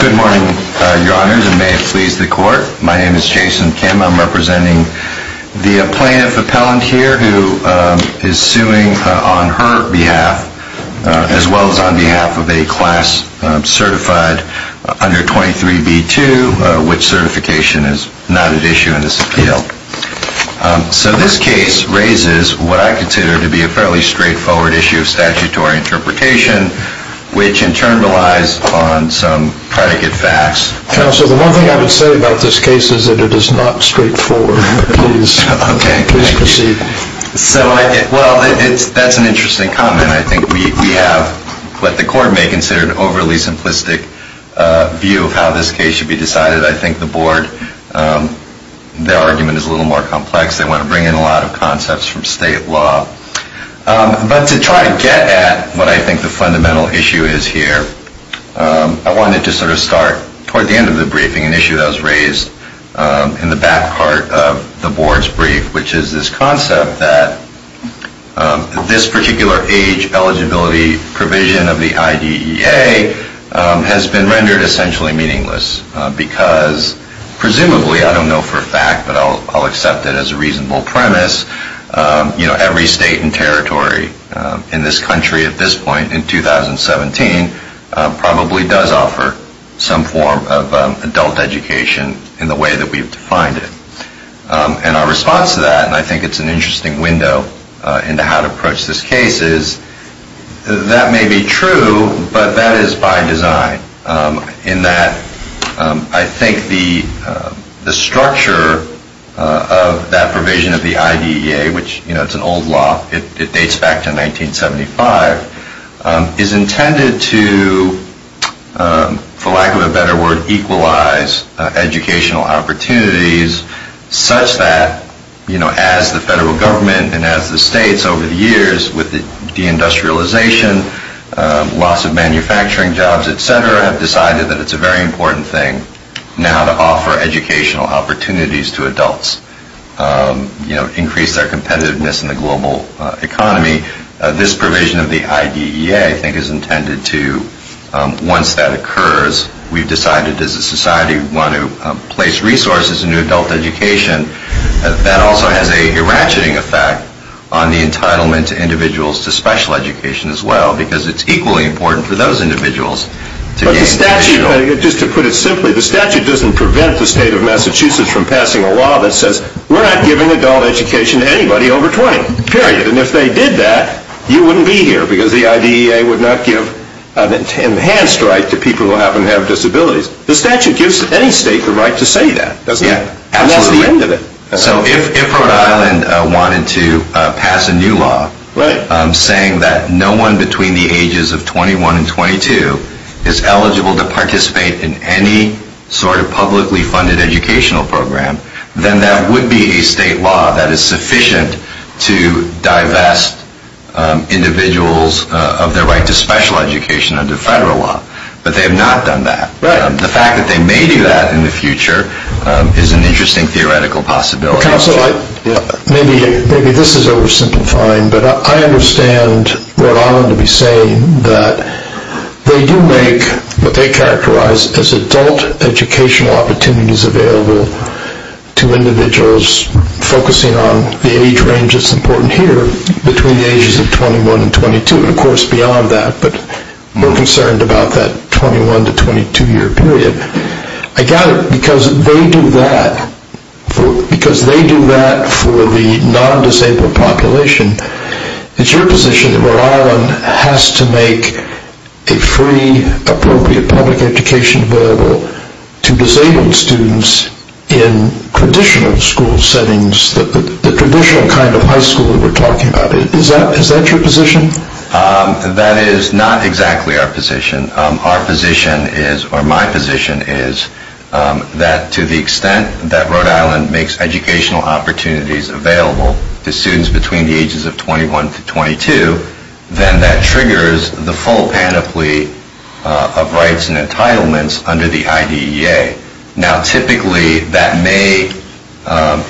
Good morning, Your Honors, and may it please the Court, my name is Jason Kim. I'm representing the plaintiff appellant here who is suing on her behalf as well as on behalf of a class certified under 23b-2, which certification is not at issue in this appeal. So this case raises what I consider to be a fairly straightforward issue of statutory interpretation, which in turn relies on some predicate facts. Counsel, the one thing I would say about this case is that it is not straightforward. Please proceed. Well, that's an interesting comment. I think we have what the Court may consider an overly simplistic view of how this case should be decided. I think the Board, their argument is a little more complex. They want to bring in a lot of concepts from state law. But to try to get at what I think the fundamental issue is here, I wanted to sort of start toward the end of the briefing an issue that was raised in the back part of the Board's brief, which is this concept that this particular age eligibility provision of the IDEA has been rendered essentially meaningless, because presumably, I don't know for a fact, but I'll accept it as a reasonable premise, you know, every state has its own age eligibility provision. Every state and territory in this country at this point in 2017 probably does offer some form of adult education in the way that we've defined it. And our response to that, and I think it's an interesting window into how to approach this case, is that may be true, but that is by design. In that, I think the structure of that provision of the IDEA, which, you know, it's an old law, it dates back to 1975, is intended to, for lack of a better word, equalize educational opportunities such that, you know, as the federal government and as the states over the years with the deindustrialization, loss of manufacturing jobs, etc., have decided that it's a very important thing now to offer educational opportunities to adults, you know, increase their competitiveness in the global economy. This provision of the IDEA, I think, is intended to, once that occurs, we've decided as a society we want to place resources into adult education. That also has a ratcheting effect on the entitlement to individuals to special education as well, because it's equally important for those individuals to get special. Just to put it simply, the statute doesn't prevent the state of Massachusetts from passing a law that says we're not giving adult education to anybody over 20, period. And if they did that, you wouldn't be here, because the IDEA would not give an enhanced right to people who happen to have disabilities. The statute gives any state the right to say that, doesn't it? So if Rhode Island wanted to pass a new law saying that no one between the ages of 21 and 22 is eligible to participate in any sort of publicly funded educational program, then that would be a state law that is sufficient to divest individuals of their right to special education under federal law. But they have not done that. The fact that they may do that in the future is an interesting theoretical possibility. Maybe this is oversimplifying, but I understand Rhode Island to be saying that they do make what they characterize as adult educational opportunities available to individuals focusing on the age range that's important here between the ages of 21 and 22, and of course beyond that, but we're concerned about that 21 to 22 year period. I got it. Because they do that for the non-disabled population, it's your position that Rhode Island has to make a free, appropriate public education available to disabled students in traditional school settings, the traditional kind of high school that we're talking about. Is that your position? That is not exactly our position. Our position is, or my position is, that to the extent that Rhode Island makes educational opportunities available to students between the ages of 21 to 22, then that triggers the full panoply of rights and entitlements under the IDEA. Now typically that may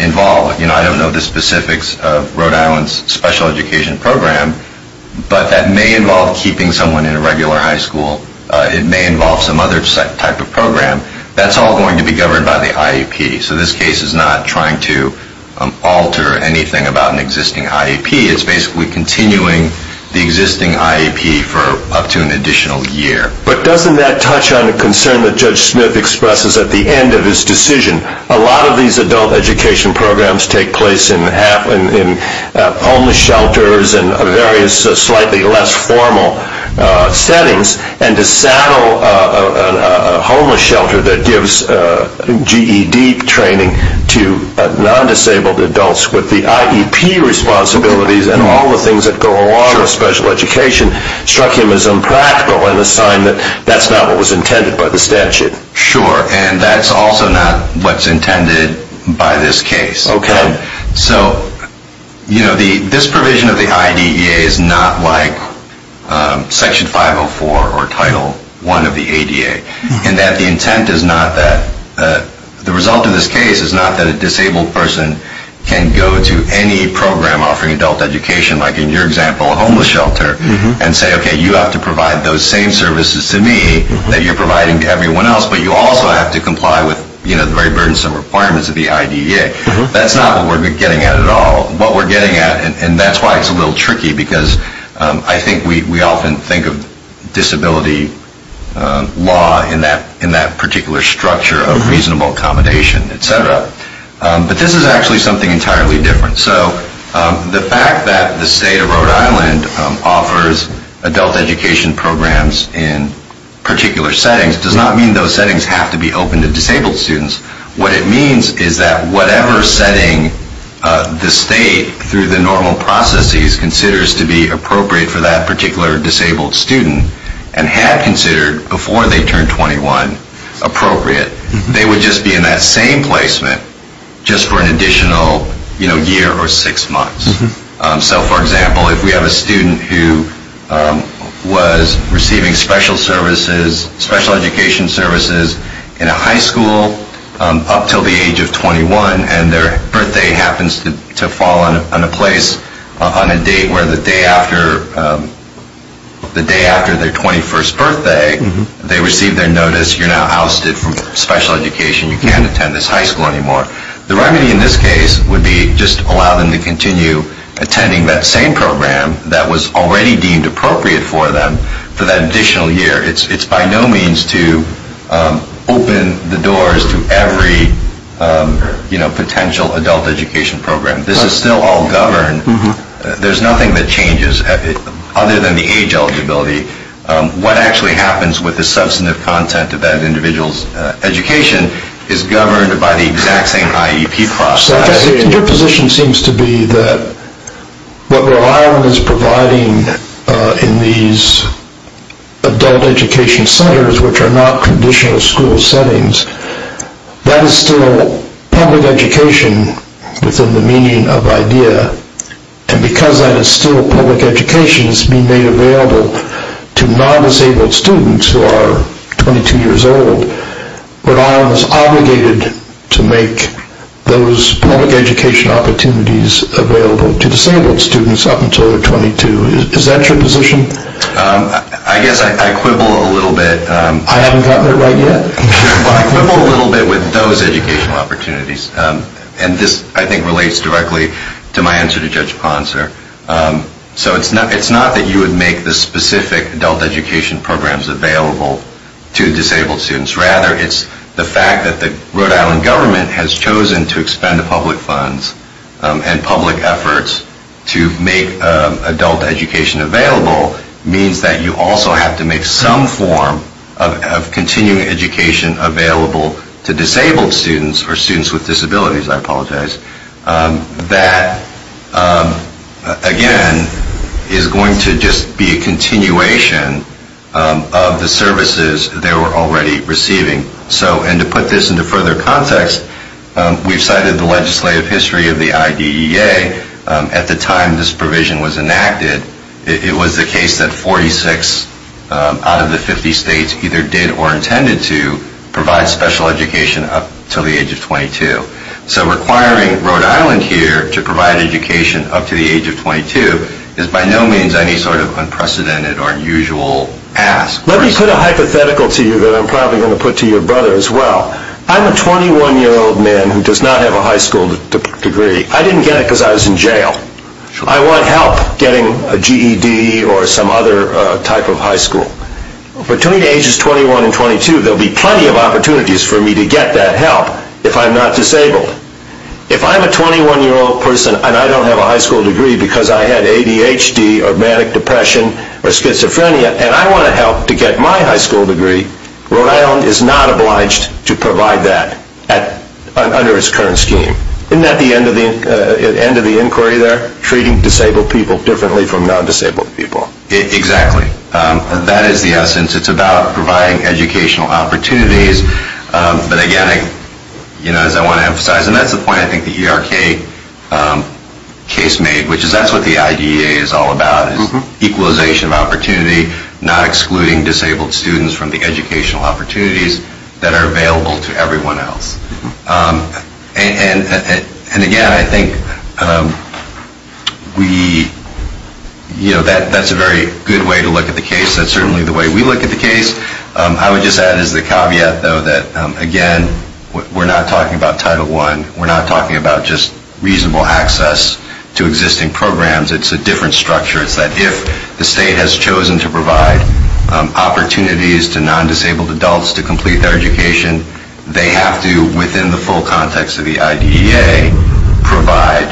involve, I don't know the specifics of Rhode Island's special education program, but that may involve keeping someone in a regular high school. It may involve some other type of program. That's all going to be governed by the IEP. So this case is not trying to alter anything about an existing IEP. It's basically continuing the existing IEP for up to an additional year. But doesn't that touch on a concern that Judge Smith expresses at the end of his decision? A lot of these adult education programs take place in homeless shelters and various slightly less formal settings, and to saddle a homeless shelter that gives GED training to non-disabled adults with the IEP responsibilities and all the things that go along with special education struck him as unpractical and a sign that he was wrong. But that's not what was intended by the statute. But you also have to comply with the very burdensome requirements of the IDEA. That's not what we're getting at at all. What we're getting at, and that's why it's a little tricky, because I think we often think of disability law in that particular structure of reasonable accommodation, etc. But this is actually something entirely different. So the fact that the state of Rhode Island offers adult education programs in particular settings does not mean those settings have to be open to disabled students. What it means is that whatever setting the state, through the normal processes, considers to be appropriate for that particular disabled student and had considered before they turned 21 appropriate, they would just be in that same placement just for an additional year or six months. So, for example, if we have a student who was receiving special education services in a high school up until the age of 21, and their birthday happens to fall on a place on a date where the day after their 21st birthday, they receive their notice, you're now ousted from special education, you can't attend this high school anymore. The remedy in this case would be just allow them to continue attending that same program that was already deemed appropriate for them for that additional year. It's by no means to open the doors to every potential adult education program. This is still all governed. There's nothing that changes other than the age eligibility. What actually happens with the substantive content of that individual's education is governed by the exact same IEP process. Your position seems to be that what Rhode Island is providing in these adult education centers, which are not traditional school settings, that is still public education within the meaning of IDEA, and because that is still public education, it's being made available to non-disabled students who are 22 years old. So, Rhode Island is obligated to make those public education opportunities available to disabled students up until they're 22. Is that your position? I guess I quibble a little bit. I haven't got that right yet. I quibble a little bit with those educational opportunities, and this I think relates directly to my answer to Judge Ponser. So, it's not that you would make the specific adult education programs available to disabled students. Rather, it's the fact that the Rhode Island government has chosen to expend public funds and public efforts to make adult education available means that you also have to make some form of continuing education available to disabled students, or students with disabilities, I apologize, that, again, is going to just be a continuation of the services they were already receiving. So, and to put this into further context, we've cited the legislative history of the IDEA. At the time this provision was enacted, it was the case that 46 out of the 50 states either did or intended to provide special education up until the age of 22. So, requiring Rhode Island here to provide education up to the age of 22 is by no means any sort of unprecedented or unusual ask. Let me put a hypothetical to you that I'm probably going to put to your brother as well. I'm a 21-year-old man who does not have a high school degree. I didn't get it because I was in jail. I want help getting a GED or some other type of high school. Between ages 21 and 22, there will be plenty of opportunities for me to get that help if I'm not disabled. If I'm a 21-year-old person and I don't have a high school degree because I had ADHD or manic depression or schizophrenia and I want to help to get my high school degree, Rhode Island is not obliged to provide that under its current scheme. Isn't that the end of the inquiry there? Treating disabled people differently from non-disabled people. Exactly. That is the essence. It's about providing educational opportunities. But, again, as I want to emphasize, and that's the point I think the ERK case made, which is that's what the IDEA is all about, is equalization of opportunity, not excluding disabled students from the educational opportunities that are available to everyone else. And, again, I think that's a very good way to look at the case. That's certainly the way we look at the case. I would just add as the caveat, though, that, again, we're not talking about Title I. We're not talking about just reasonable access to existing programs. It's a different structure. It's that if the state has chosen to provide opportunities to non-disabled adults to complete their education, they have to, within the full context of the IDEA, provide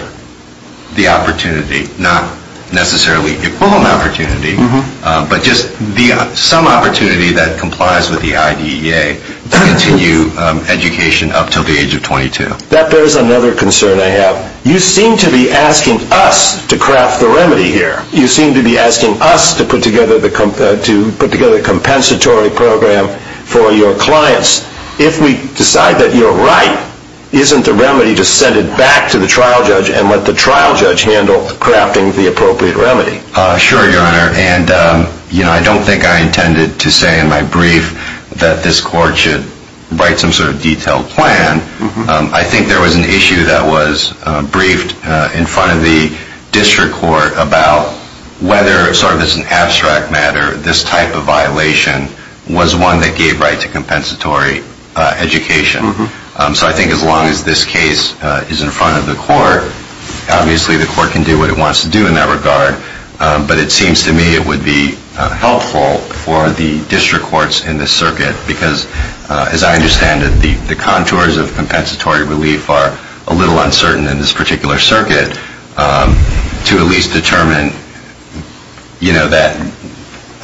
the opportunity, not necessarily equal opportunity, but just some opportunity that complies with the IDEA to continue education up until the age of 22. That bears another concern I have. You seem to be asking us to craft the remedy here. You seem to be asking us to put together a compensatory program for your clients. If we decide that you're right, isn't the remedy to send it back to the trial judge and let the trial judge handle crafting the appropriate remedy? Sure, Your Honor. And I don't think I intended to say in my brief that this court should write some sort of detailed plan. I think there was an issue that was briefed in front of the district court about whether, sort of as an abstract matter, this type of violation was one that gave right to compensatory education. So I think as long as this case is in front of the court, obviously the court can do what it wants to do in that regard. But it seems to me it would be helpful for the district courts in this circuit, because as I understand it, the contours of compensatory relief are a little uncertain in this particular circuit, to at least determine that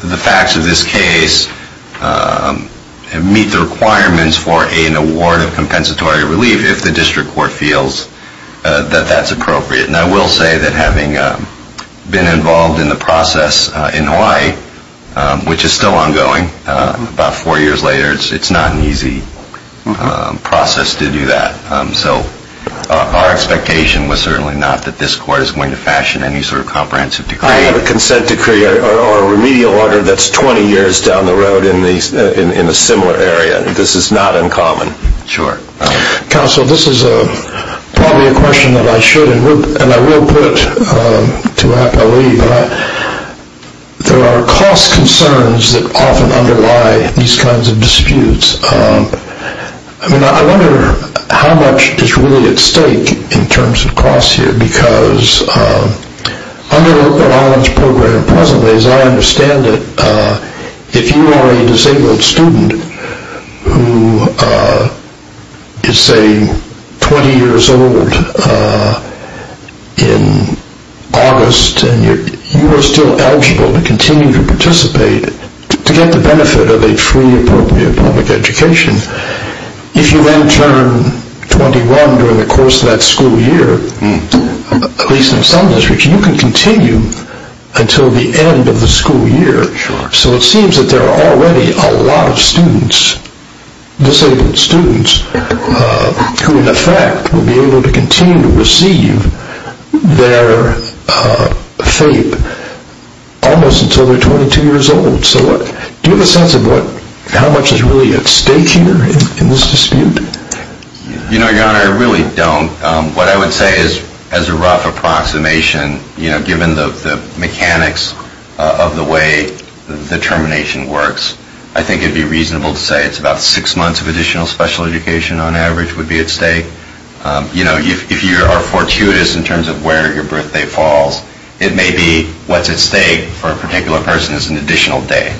the facts of this case meet the requirements for an award of compensatory relief if the district court feels that that's appropriate. And I will say that having been involved in the process in Hawaii, which is still ongoing about four years later, it's not an easy process to do that. So our expectation was certainly not that this court is going to fashion any sort of comprehensive decree. I have a consent decree or a remedial order that's 20 years down the road in a similar area. This is not uncommon. Sure. Counsel, this is probably a question that I should, and I will put to APOE, but there are cost concerns that often underlie these kinds of disputes. I wonder how much is really at stake in terms of cost here, because under the knowledge program presently, as I understand it, if you are a disabled student who is, say, 20 years old in August, and you are still eligible to continue to participate to get the benefit of a free, appropriate public education, if you then turn 21 during the course of that school year, at least in some districts, you can continue until the end of the school year. So it seems that there are already a lot of students, disabled students, who in effect will be able to continue to receive their FAPE almost until they're 22 years old. So do you have a sense of how much is really at stake here in this dispute? You know, Your Honor, I really don't. What I would say is as a rough approximation, you know, given the mechanics of the way the termination works, I think it would be reasonable to say it's about six months of additional special education on average would be at stake. You know, if you are fortuitous in terms of where your birthday falls, it may be what's at stake for a particular person is an additional day.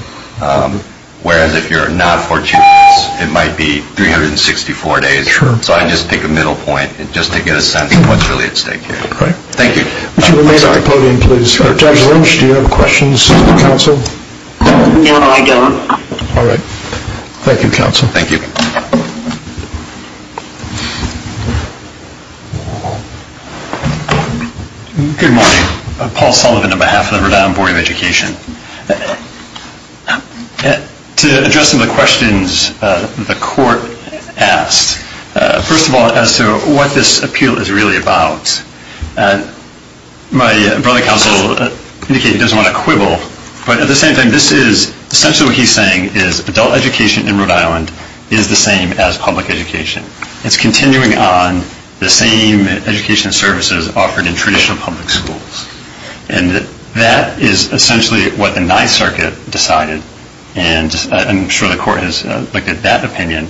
Whereas if you're not fortuitous, it might be 364 days. So I just pick a middle point just to get a sense of what's really at stake here. Thank you. Would you remain on the podium, please? Judge Lynch, do you have questions for counsel? No, I don't. All right. Thank you, counsel. Thank you. Good morning. Paul Sullivan on behalf of the Rhode Island Board of Education. To address some of the questions the court asked, first of all, as to what this appeal is really about, my brother counsel indicated he doesn't want to quibble. But at the same time, this is essentially what he's saying is adult education in Rhode Island is the same as public education. It's continuing on the same education services offered in traditional public schools. And that is essentially what the Ninth Circuit decided, and I'm sure the court has looked at that opinion.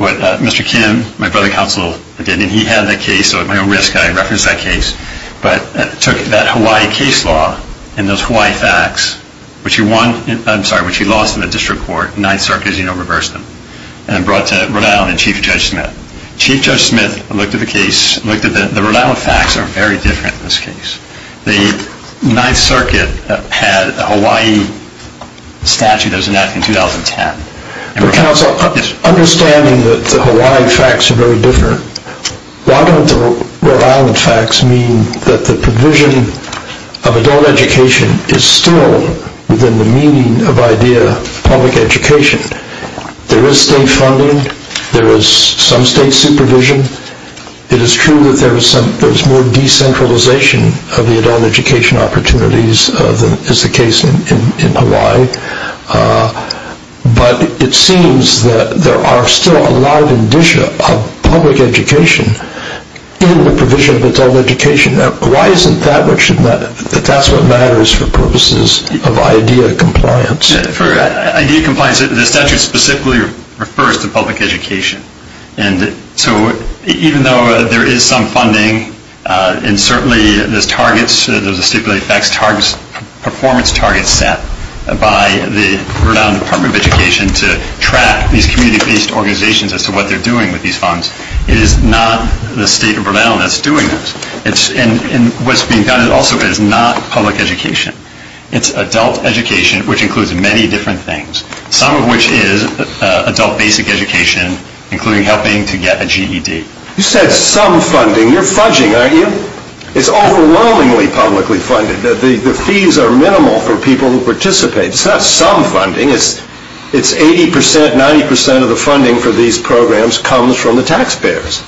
What Mr. Kim, my brother counsel, did, and he had that case, so at my own risk I referenced that case, but took that Hawaii case law and those Hawaii facts, which he lost in the district court, the Ninth Circuit, as you know, reversed them, and brought to Rhode Island in Chief Judge Smith. Chief Judge Smith looked at the case, looked at the Rhode Island facts are very different in this case. The Ninth Circuit had a Hawaii statute that was enacted in 2010. But, counsel, understanding that the Hawaii facts are very different, why don't the Rhode Island facts mean that the provision of adult education is still within the meaning of the idea of public education? There is state funding, there is some state supervision. It is true that there is more decentralization of the adult education opportunities than is the case in Hawaii. But it seems that there are still a lot of public education in the provision of adult education. Why isn't that what matters for purposes of IDEA compliance? For IDEA compliance, the statute specifically refers to public education. So even though there is some funding, and certainly there's targets, there's a stipulated facts performance target set by the Rhode Island Department of Education to track these community-based organizations as to what they're doing with these funds, it is not the state of Rhode Island that's doing this. And what's being done also is not public education. It's adult education, which includes many different things, some of which is adult basic education, including helping to get a GED. You said some funding. You're fudging, aren't you? It's overwhelmingly publicly funded. The fees are minimal for people who participate. It's not some funding. It's 80%, 90% of the funding for these programs comes from the taxpayers.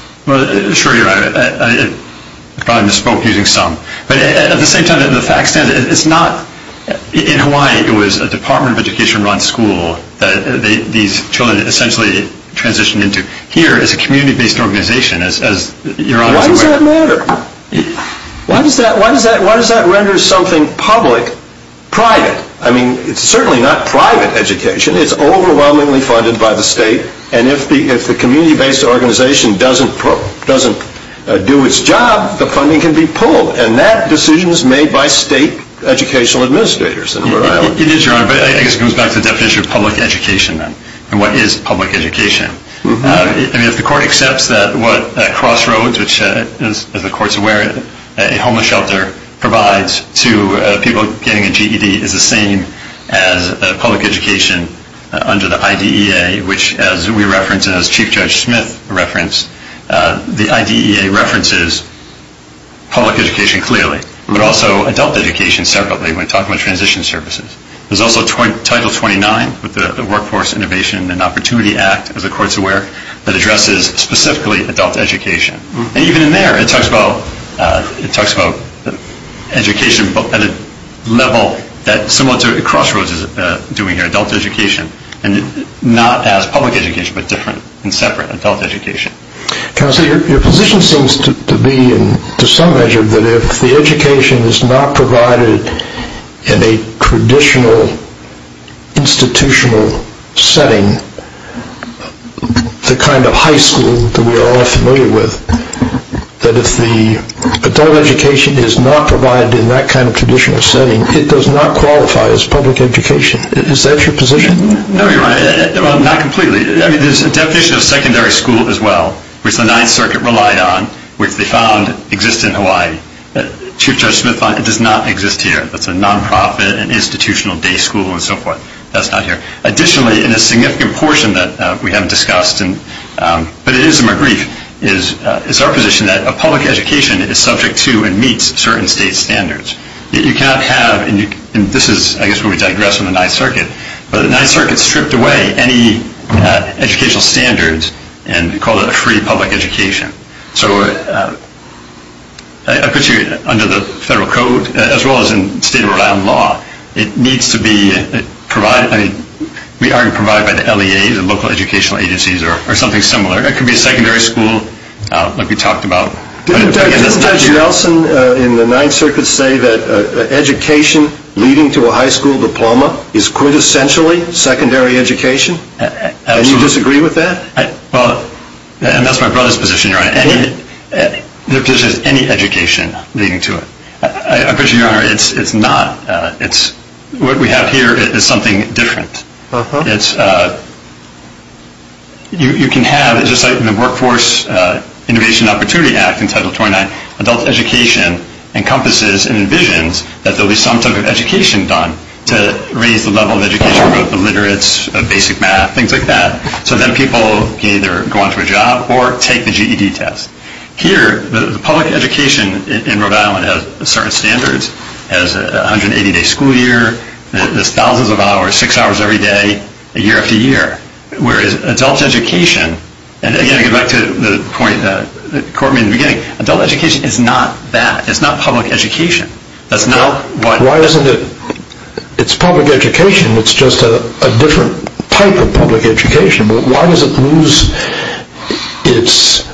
Sure, you're right. I probably misspoke using some. But at the same time, the fact is, in Hawaii, it was a Department of Education-run school that these children essentially transitioned into. Here, it's a community-based organization. Why does that matter? Why does that render something public private? I mean, it's certainly not private education. It's overwhelmingly funded by the state. And if the community-based organization doesn't do its job, the funding can be pulled. And that decision is made by state educational administrators in Rhode Island. It is, Your Honor, but I guess it goes back to the definition of public education, then. And what is public education? I mean, if the court accepts that what Crossroads, which, as the court's aware, a homeless shelter provides to people getting a GED, is the same as public education under the IDEA, which, as we referenced and as Chief Judge Smith referenced, the IDEA references public education clearly, but also adult education separately when talking about transition services. There's also Title 29 with the Workforce Innovation and Opportunity Act, as the court's aware, that addresses specifically adult education. And even in there, it talks about education at a level that's similar to what Crossroads is doing here, adult education, and not as public education, but different and separate adult education. Counselor, your position seems to be, to some measure, that if the education is not provided in a traditional institutional setting, the kind of high school that we are all familiar with, that if the adult education is not provided in that kind of traditional setting, it does not qualify as public education. Is that your position? No, Your Honor. Well, not completely. I mean, there's a definition of secondary school as well, which the Ninth Circuit relied on, which they found existed in Hawaii. Chief Judge Smith found it does not exist here. That's a nonprofit, an institutional day school, and so forth. That's not here. Additionally, in a significant portion that we haven't discussed, but it is in my brief, is our position that a public education is subject to and meets certain state standards. You cannot have, and this is, I guess, where we digress from the Ninth Circuit, but the Ninth Circuit stripped away any educational standards and called it a free public education. So I put you under the federal code, as well as in state of Rhode Island law. It needs to be provided. I mean, we argue provided by the LEAs, the local educational agencies, or something similar. It could be a secondary school like we talked about. Didn't Judge Nelson in the Ninth Circuit say that education leading to a high school diploma is quintessentially secondary education? Absolutely. And you disagree with that? Well, and that's my brother's position, Your Honor. There's just any education leading to it. I put you, Your Honor, it's not. What we have here is something different. You can have, just like in the Workforce Innovation Opportunity Act in Title 29, adult education encompasses and envisions that there will be some type of education done to raise the level of education for the literates, basic math, things like that. So then people can either go on to a job or take the GED test. Here, the public education in Rhode Island has certain standards. It has a 180-day school year. It has thousands of hours, six hours every day, year after year. Whereas adult education, and again, going back to the point that Courtney made in the beginning, adult education is not that. It's not public education. That's not what... Why isn't it? It's public education. It's just a different type of public education. Why does it lose its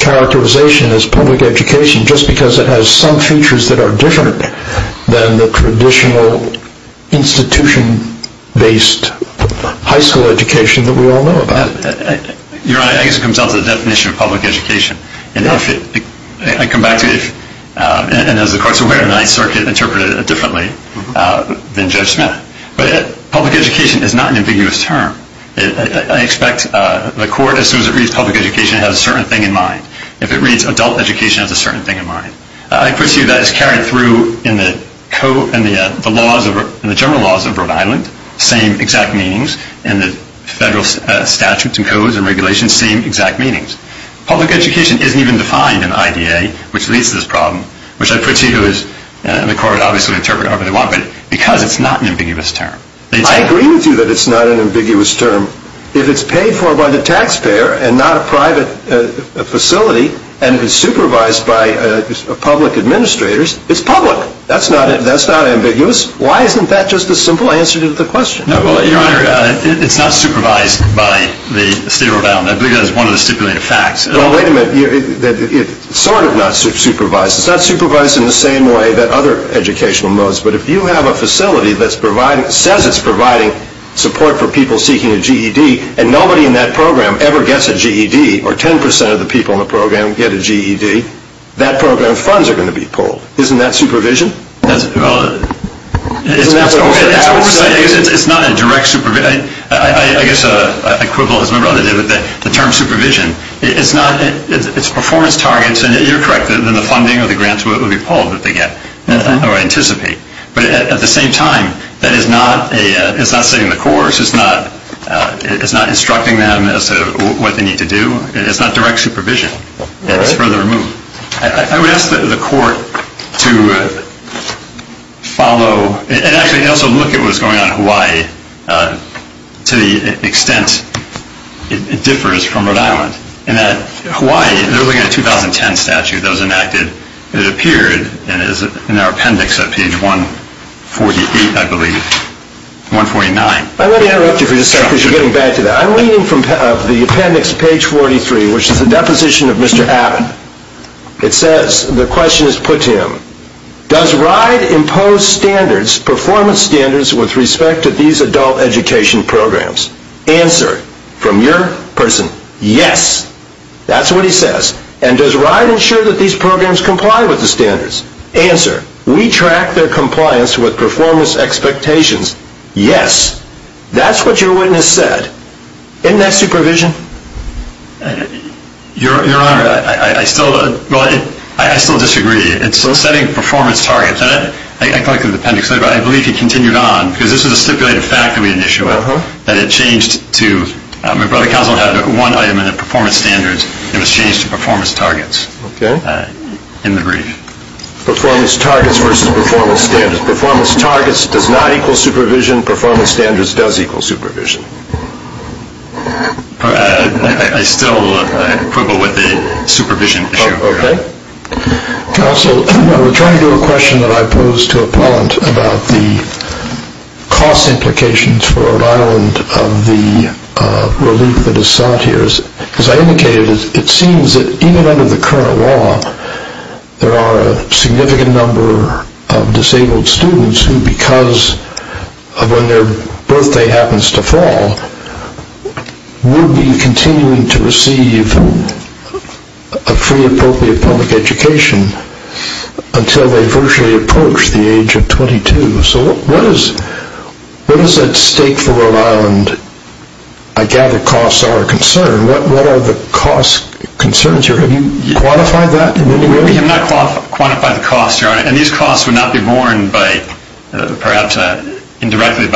characterization as public education? Just because it has some features that are different than the traditional institution-based high school education that we all know about. Your Honor, I guess it comes down to the definition of public education. I come back to it. And as the Court's aware, the Ninth Circuit interpreted it differently than Judge Smith. But public education is not an ambiguous term. I expect the Court, as soon as it reads public education, has a certain thing in mind. If it reads adult education, it has a certain thing in mind. I put to you that it's carried through in the general laws of Rhode Island, same exact meanings, and the federal statutes and codes and regulations, same exact meanings. Public education isn't even defined in the IDA, which leads to this problem, which I put to you, and the Court would obviously interpret however they want, but because it's not an ambiguous term. I agree with you that it's not an ambiguous term. If it's paid for by the taxpayer and not a private facility, and if it's supervised by public administrators, it's public. That's not ambiguous. Why isn't that just a simple answer to the question? Your Honor, it's not supervised by the state of Rhode Island. I believe that is one of the stipulated facts. Well, wait a minute. It's sort of not supervised. It's not supervised in the same way that other educational modes, but if you have a facility that says it's providing support for people seeking a GED and nobody in that program ever gets a GED or 10% of the people in the program get a GED, that program funds are going to be pulled. Isn't that supervision? Well, it's oversight. It's not a direct supervision. I guess I quibble as my brother did with the term supervision. It's performance targets, and you're correct. Then the funding or the grants will be pulled that they get or anticipate. But at the same time, that is not setting the course. It's not instructing them as to what they need to do. It's not direct supervision. It's further removed. I would ask the court to follow and actually also look at what's going on in Hawaii to the extent it differs from Rhode Island in that Hawaii, the 2010 statute that was enacted, it appeared in our appendix at page 148, I believe, 149. Let me interrupt you for just a second because you're getting back to that. I'm reading from the appendix, page 43, which is the deposition of Mr. Abbott. It says, the question is put to him, does RIDE impose standards, performance standards, with respect to these adult education programs? Answer, from your person, yes. That's what he says. And does RIDE ensure that these programs comply with the standards? Answer, we track their compliance with performance expectations, yes. That's what your witness said. Isn't that supervision? Your Honor, I still disagree. It's setting performance targets. I collected the appendix later, but I believe he continued on, because this is a stipulated fact that we had an issue with, that it changed to, my brother counsel had one item in the performance standards, and it was changed to performance targets in the brief. Performance targets versus performance standards. Performance targets does not equal supervision. Performance standards does equal supervision. I still quibble with the supervision issue. Okay. Counsel, I'm trying to do a question that I posed to a parent about the cost implications for Rhode Island of the relief that is sought here. As I indicated, it seems that even under the current law, there are a significant number of disabled students who, because of when their birthday happens to fall, will be continuing to receive a free appropriate public education until they virtually approach the age of 22. So what is at stake for Rhode Island? I gather costs are a concern. What are the cost concerns here? Have you quantified that in any way? We have not quantified the costs, Your Honor, and these costs would not be borne by, perhaps indirectly,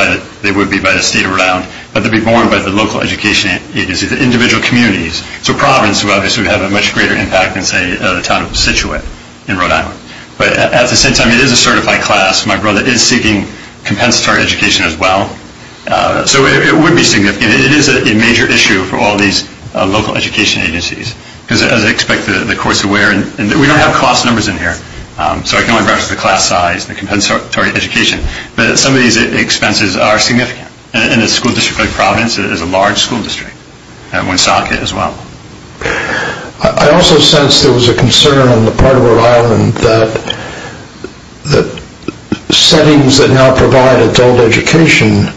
they would be by the State of Rhode Island, but they would be borne by the local education agencies, the individual communities, so Providence, who obviously would have a much greater impact than, say, the town of Scituate in Rhode Island. But at the same time, it is a certified class. My brother is seeking compensatory education as well. So it would be significant. It is a major issue for all these local education agencies, because, as I expect, the courts are aware. We don't have cost numbers in here, so I can only reference the class size and the compensatory education. But some of these expenses are significant, and a school district like Providence is a large school district, Woonsocket as well. I also sense there was a concern on the part of Rhode Island that settings that now provide adult education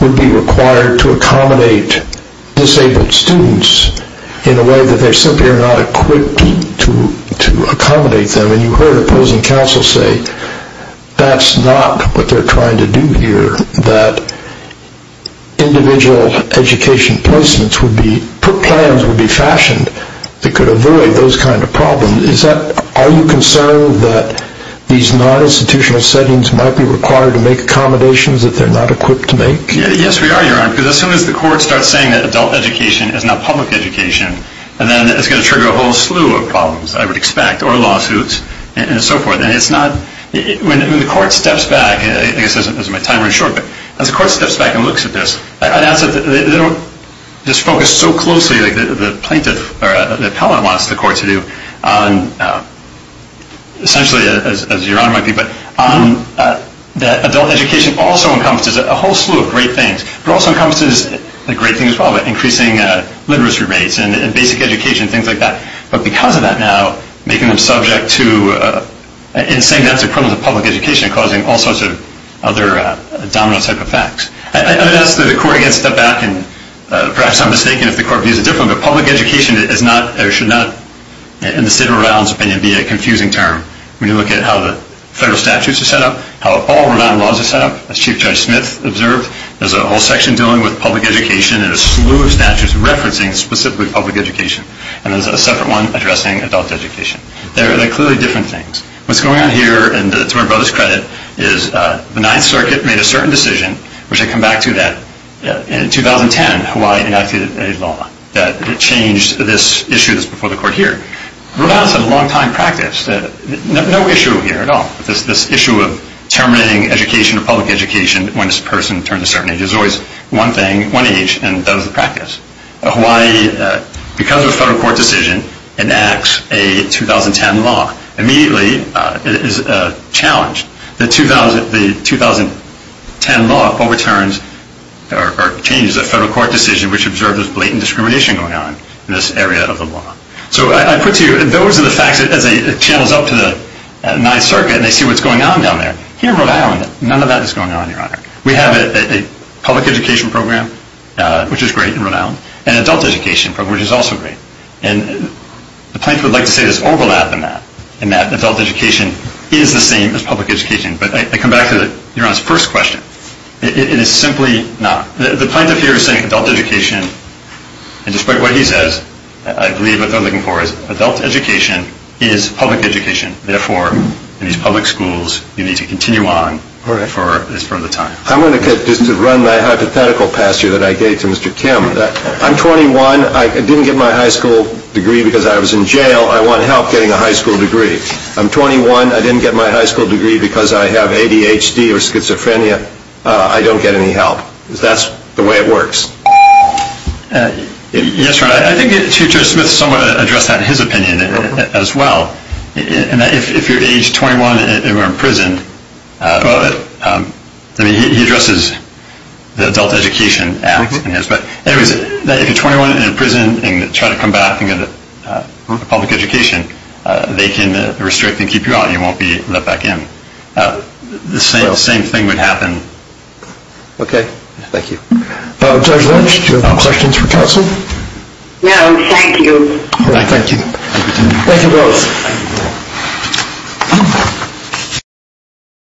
would be required to accommodate disabled students in a way that they simply are not equipped to accommodate them. And you heard opposing counsel say, that's not what they're trying to do here, that individual education placements would be, plans would be fashioned that could avoid those kind of problems. Are you concerned that these non-institutional settings might be required to make accommodations that they're not equipped to make? Yes, we are, Your Honor, because as soon as the court starts saying that adult education is not public education, then it's going to trigger a whole slew of problems, I would expect, or lawsuits, and so forth. And it's not, when the court steps back, I guess this is my time running short, but as the court steps back and looks at this, I'd ask that they don't just focus so closely, like the plaintiff or the appellate wants the court to do, on essentially, as Your Honor might be, but that adult education also encompasses a whole slew of great things. It also encompasses, a great thing as well, increasing literacy rates and basic education, things like that. But because of that now, making them subject to, and saying that's a criminal to public education, causing all sorts of other domino type effects. I'd ask that the court again step back, and perhaps I'm mistaken if the court views it differently, but public education is not, or should not, in the State of Rhode Island's opinion, be a confusing term. When you look at how the federal statutes are set up, how all Rhode Island laws are set up, as Chief Judge Smith observed, there's a whole section dealing with public education, and a slew of statutes referencing specifically public education. And there's a separate one addressing adult education. They're clearly different things. What's going on here, and to my brother's credit, is the Ninth Circuit made a certain decision, which I come back to that, in 2010, Hawaii enacted a law that changed this issue that's before the court here. Rhode Island's had a long time practice and there's no issue here at all. This issue of terminating education or public education when this person turns a certain age is always one thing, one age, and that is the practice. Hawaii, because of a federal court decision, enacts a 2010 law. Immediately, it is challenged. The 2010 law overturns or changes a federal court decision which observed this blatant discrimination going on in this area of the law. So I put to you, those are the facts, as it channels up to the Ninth Circuit and they see what's going on down there. Here in Rhode Island, none of that is going on, Your Honor. We have a public education program, which is great in Rhode Island, and an adult education program, which is also great. And the plaintiff would like to say there's overlap in that, in that adult education is the same as public education. But I come back to Your Honor's first question. It is simply not. The plaintiff here is saying adult education, and despite what he says, I believe what they're looking for is adult education is public education. Therefore, in these public schools, you need to continue on as per the time. I'm going to just run my hypothetical past here that I gave to Mr. Kim. I'm 21. I didn't get my high school degree because I was in jail. I want help getting a high school degree. I'm 21. I didn't get my high school degree because I have ADHD or schizophrenia. I don't get any help. That's the way it works. Yes, Your Honor. I think Judge Smith somewhat addressed that in his opinion as well, in that if you're age 21 and you're in prison, he addresses the adult education act in his, but anyways, if you're 21 and in prison and try to come back and get a public education, they can restrict and keep you out. You won't be let back in. The same thing would happen. Okay. Thank you. Judge Lynch, do you have any questions for counsel? No. Thank you. All right. Thank you. Thank you both.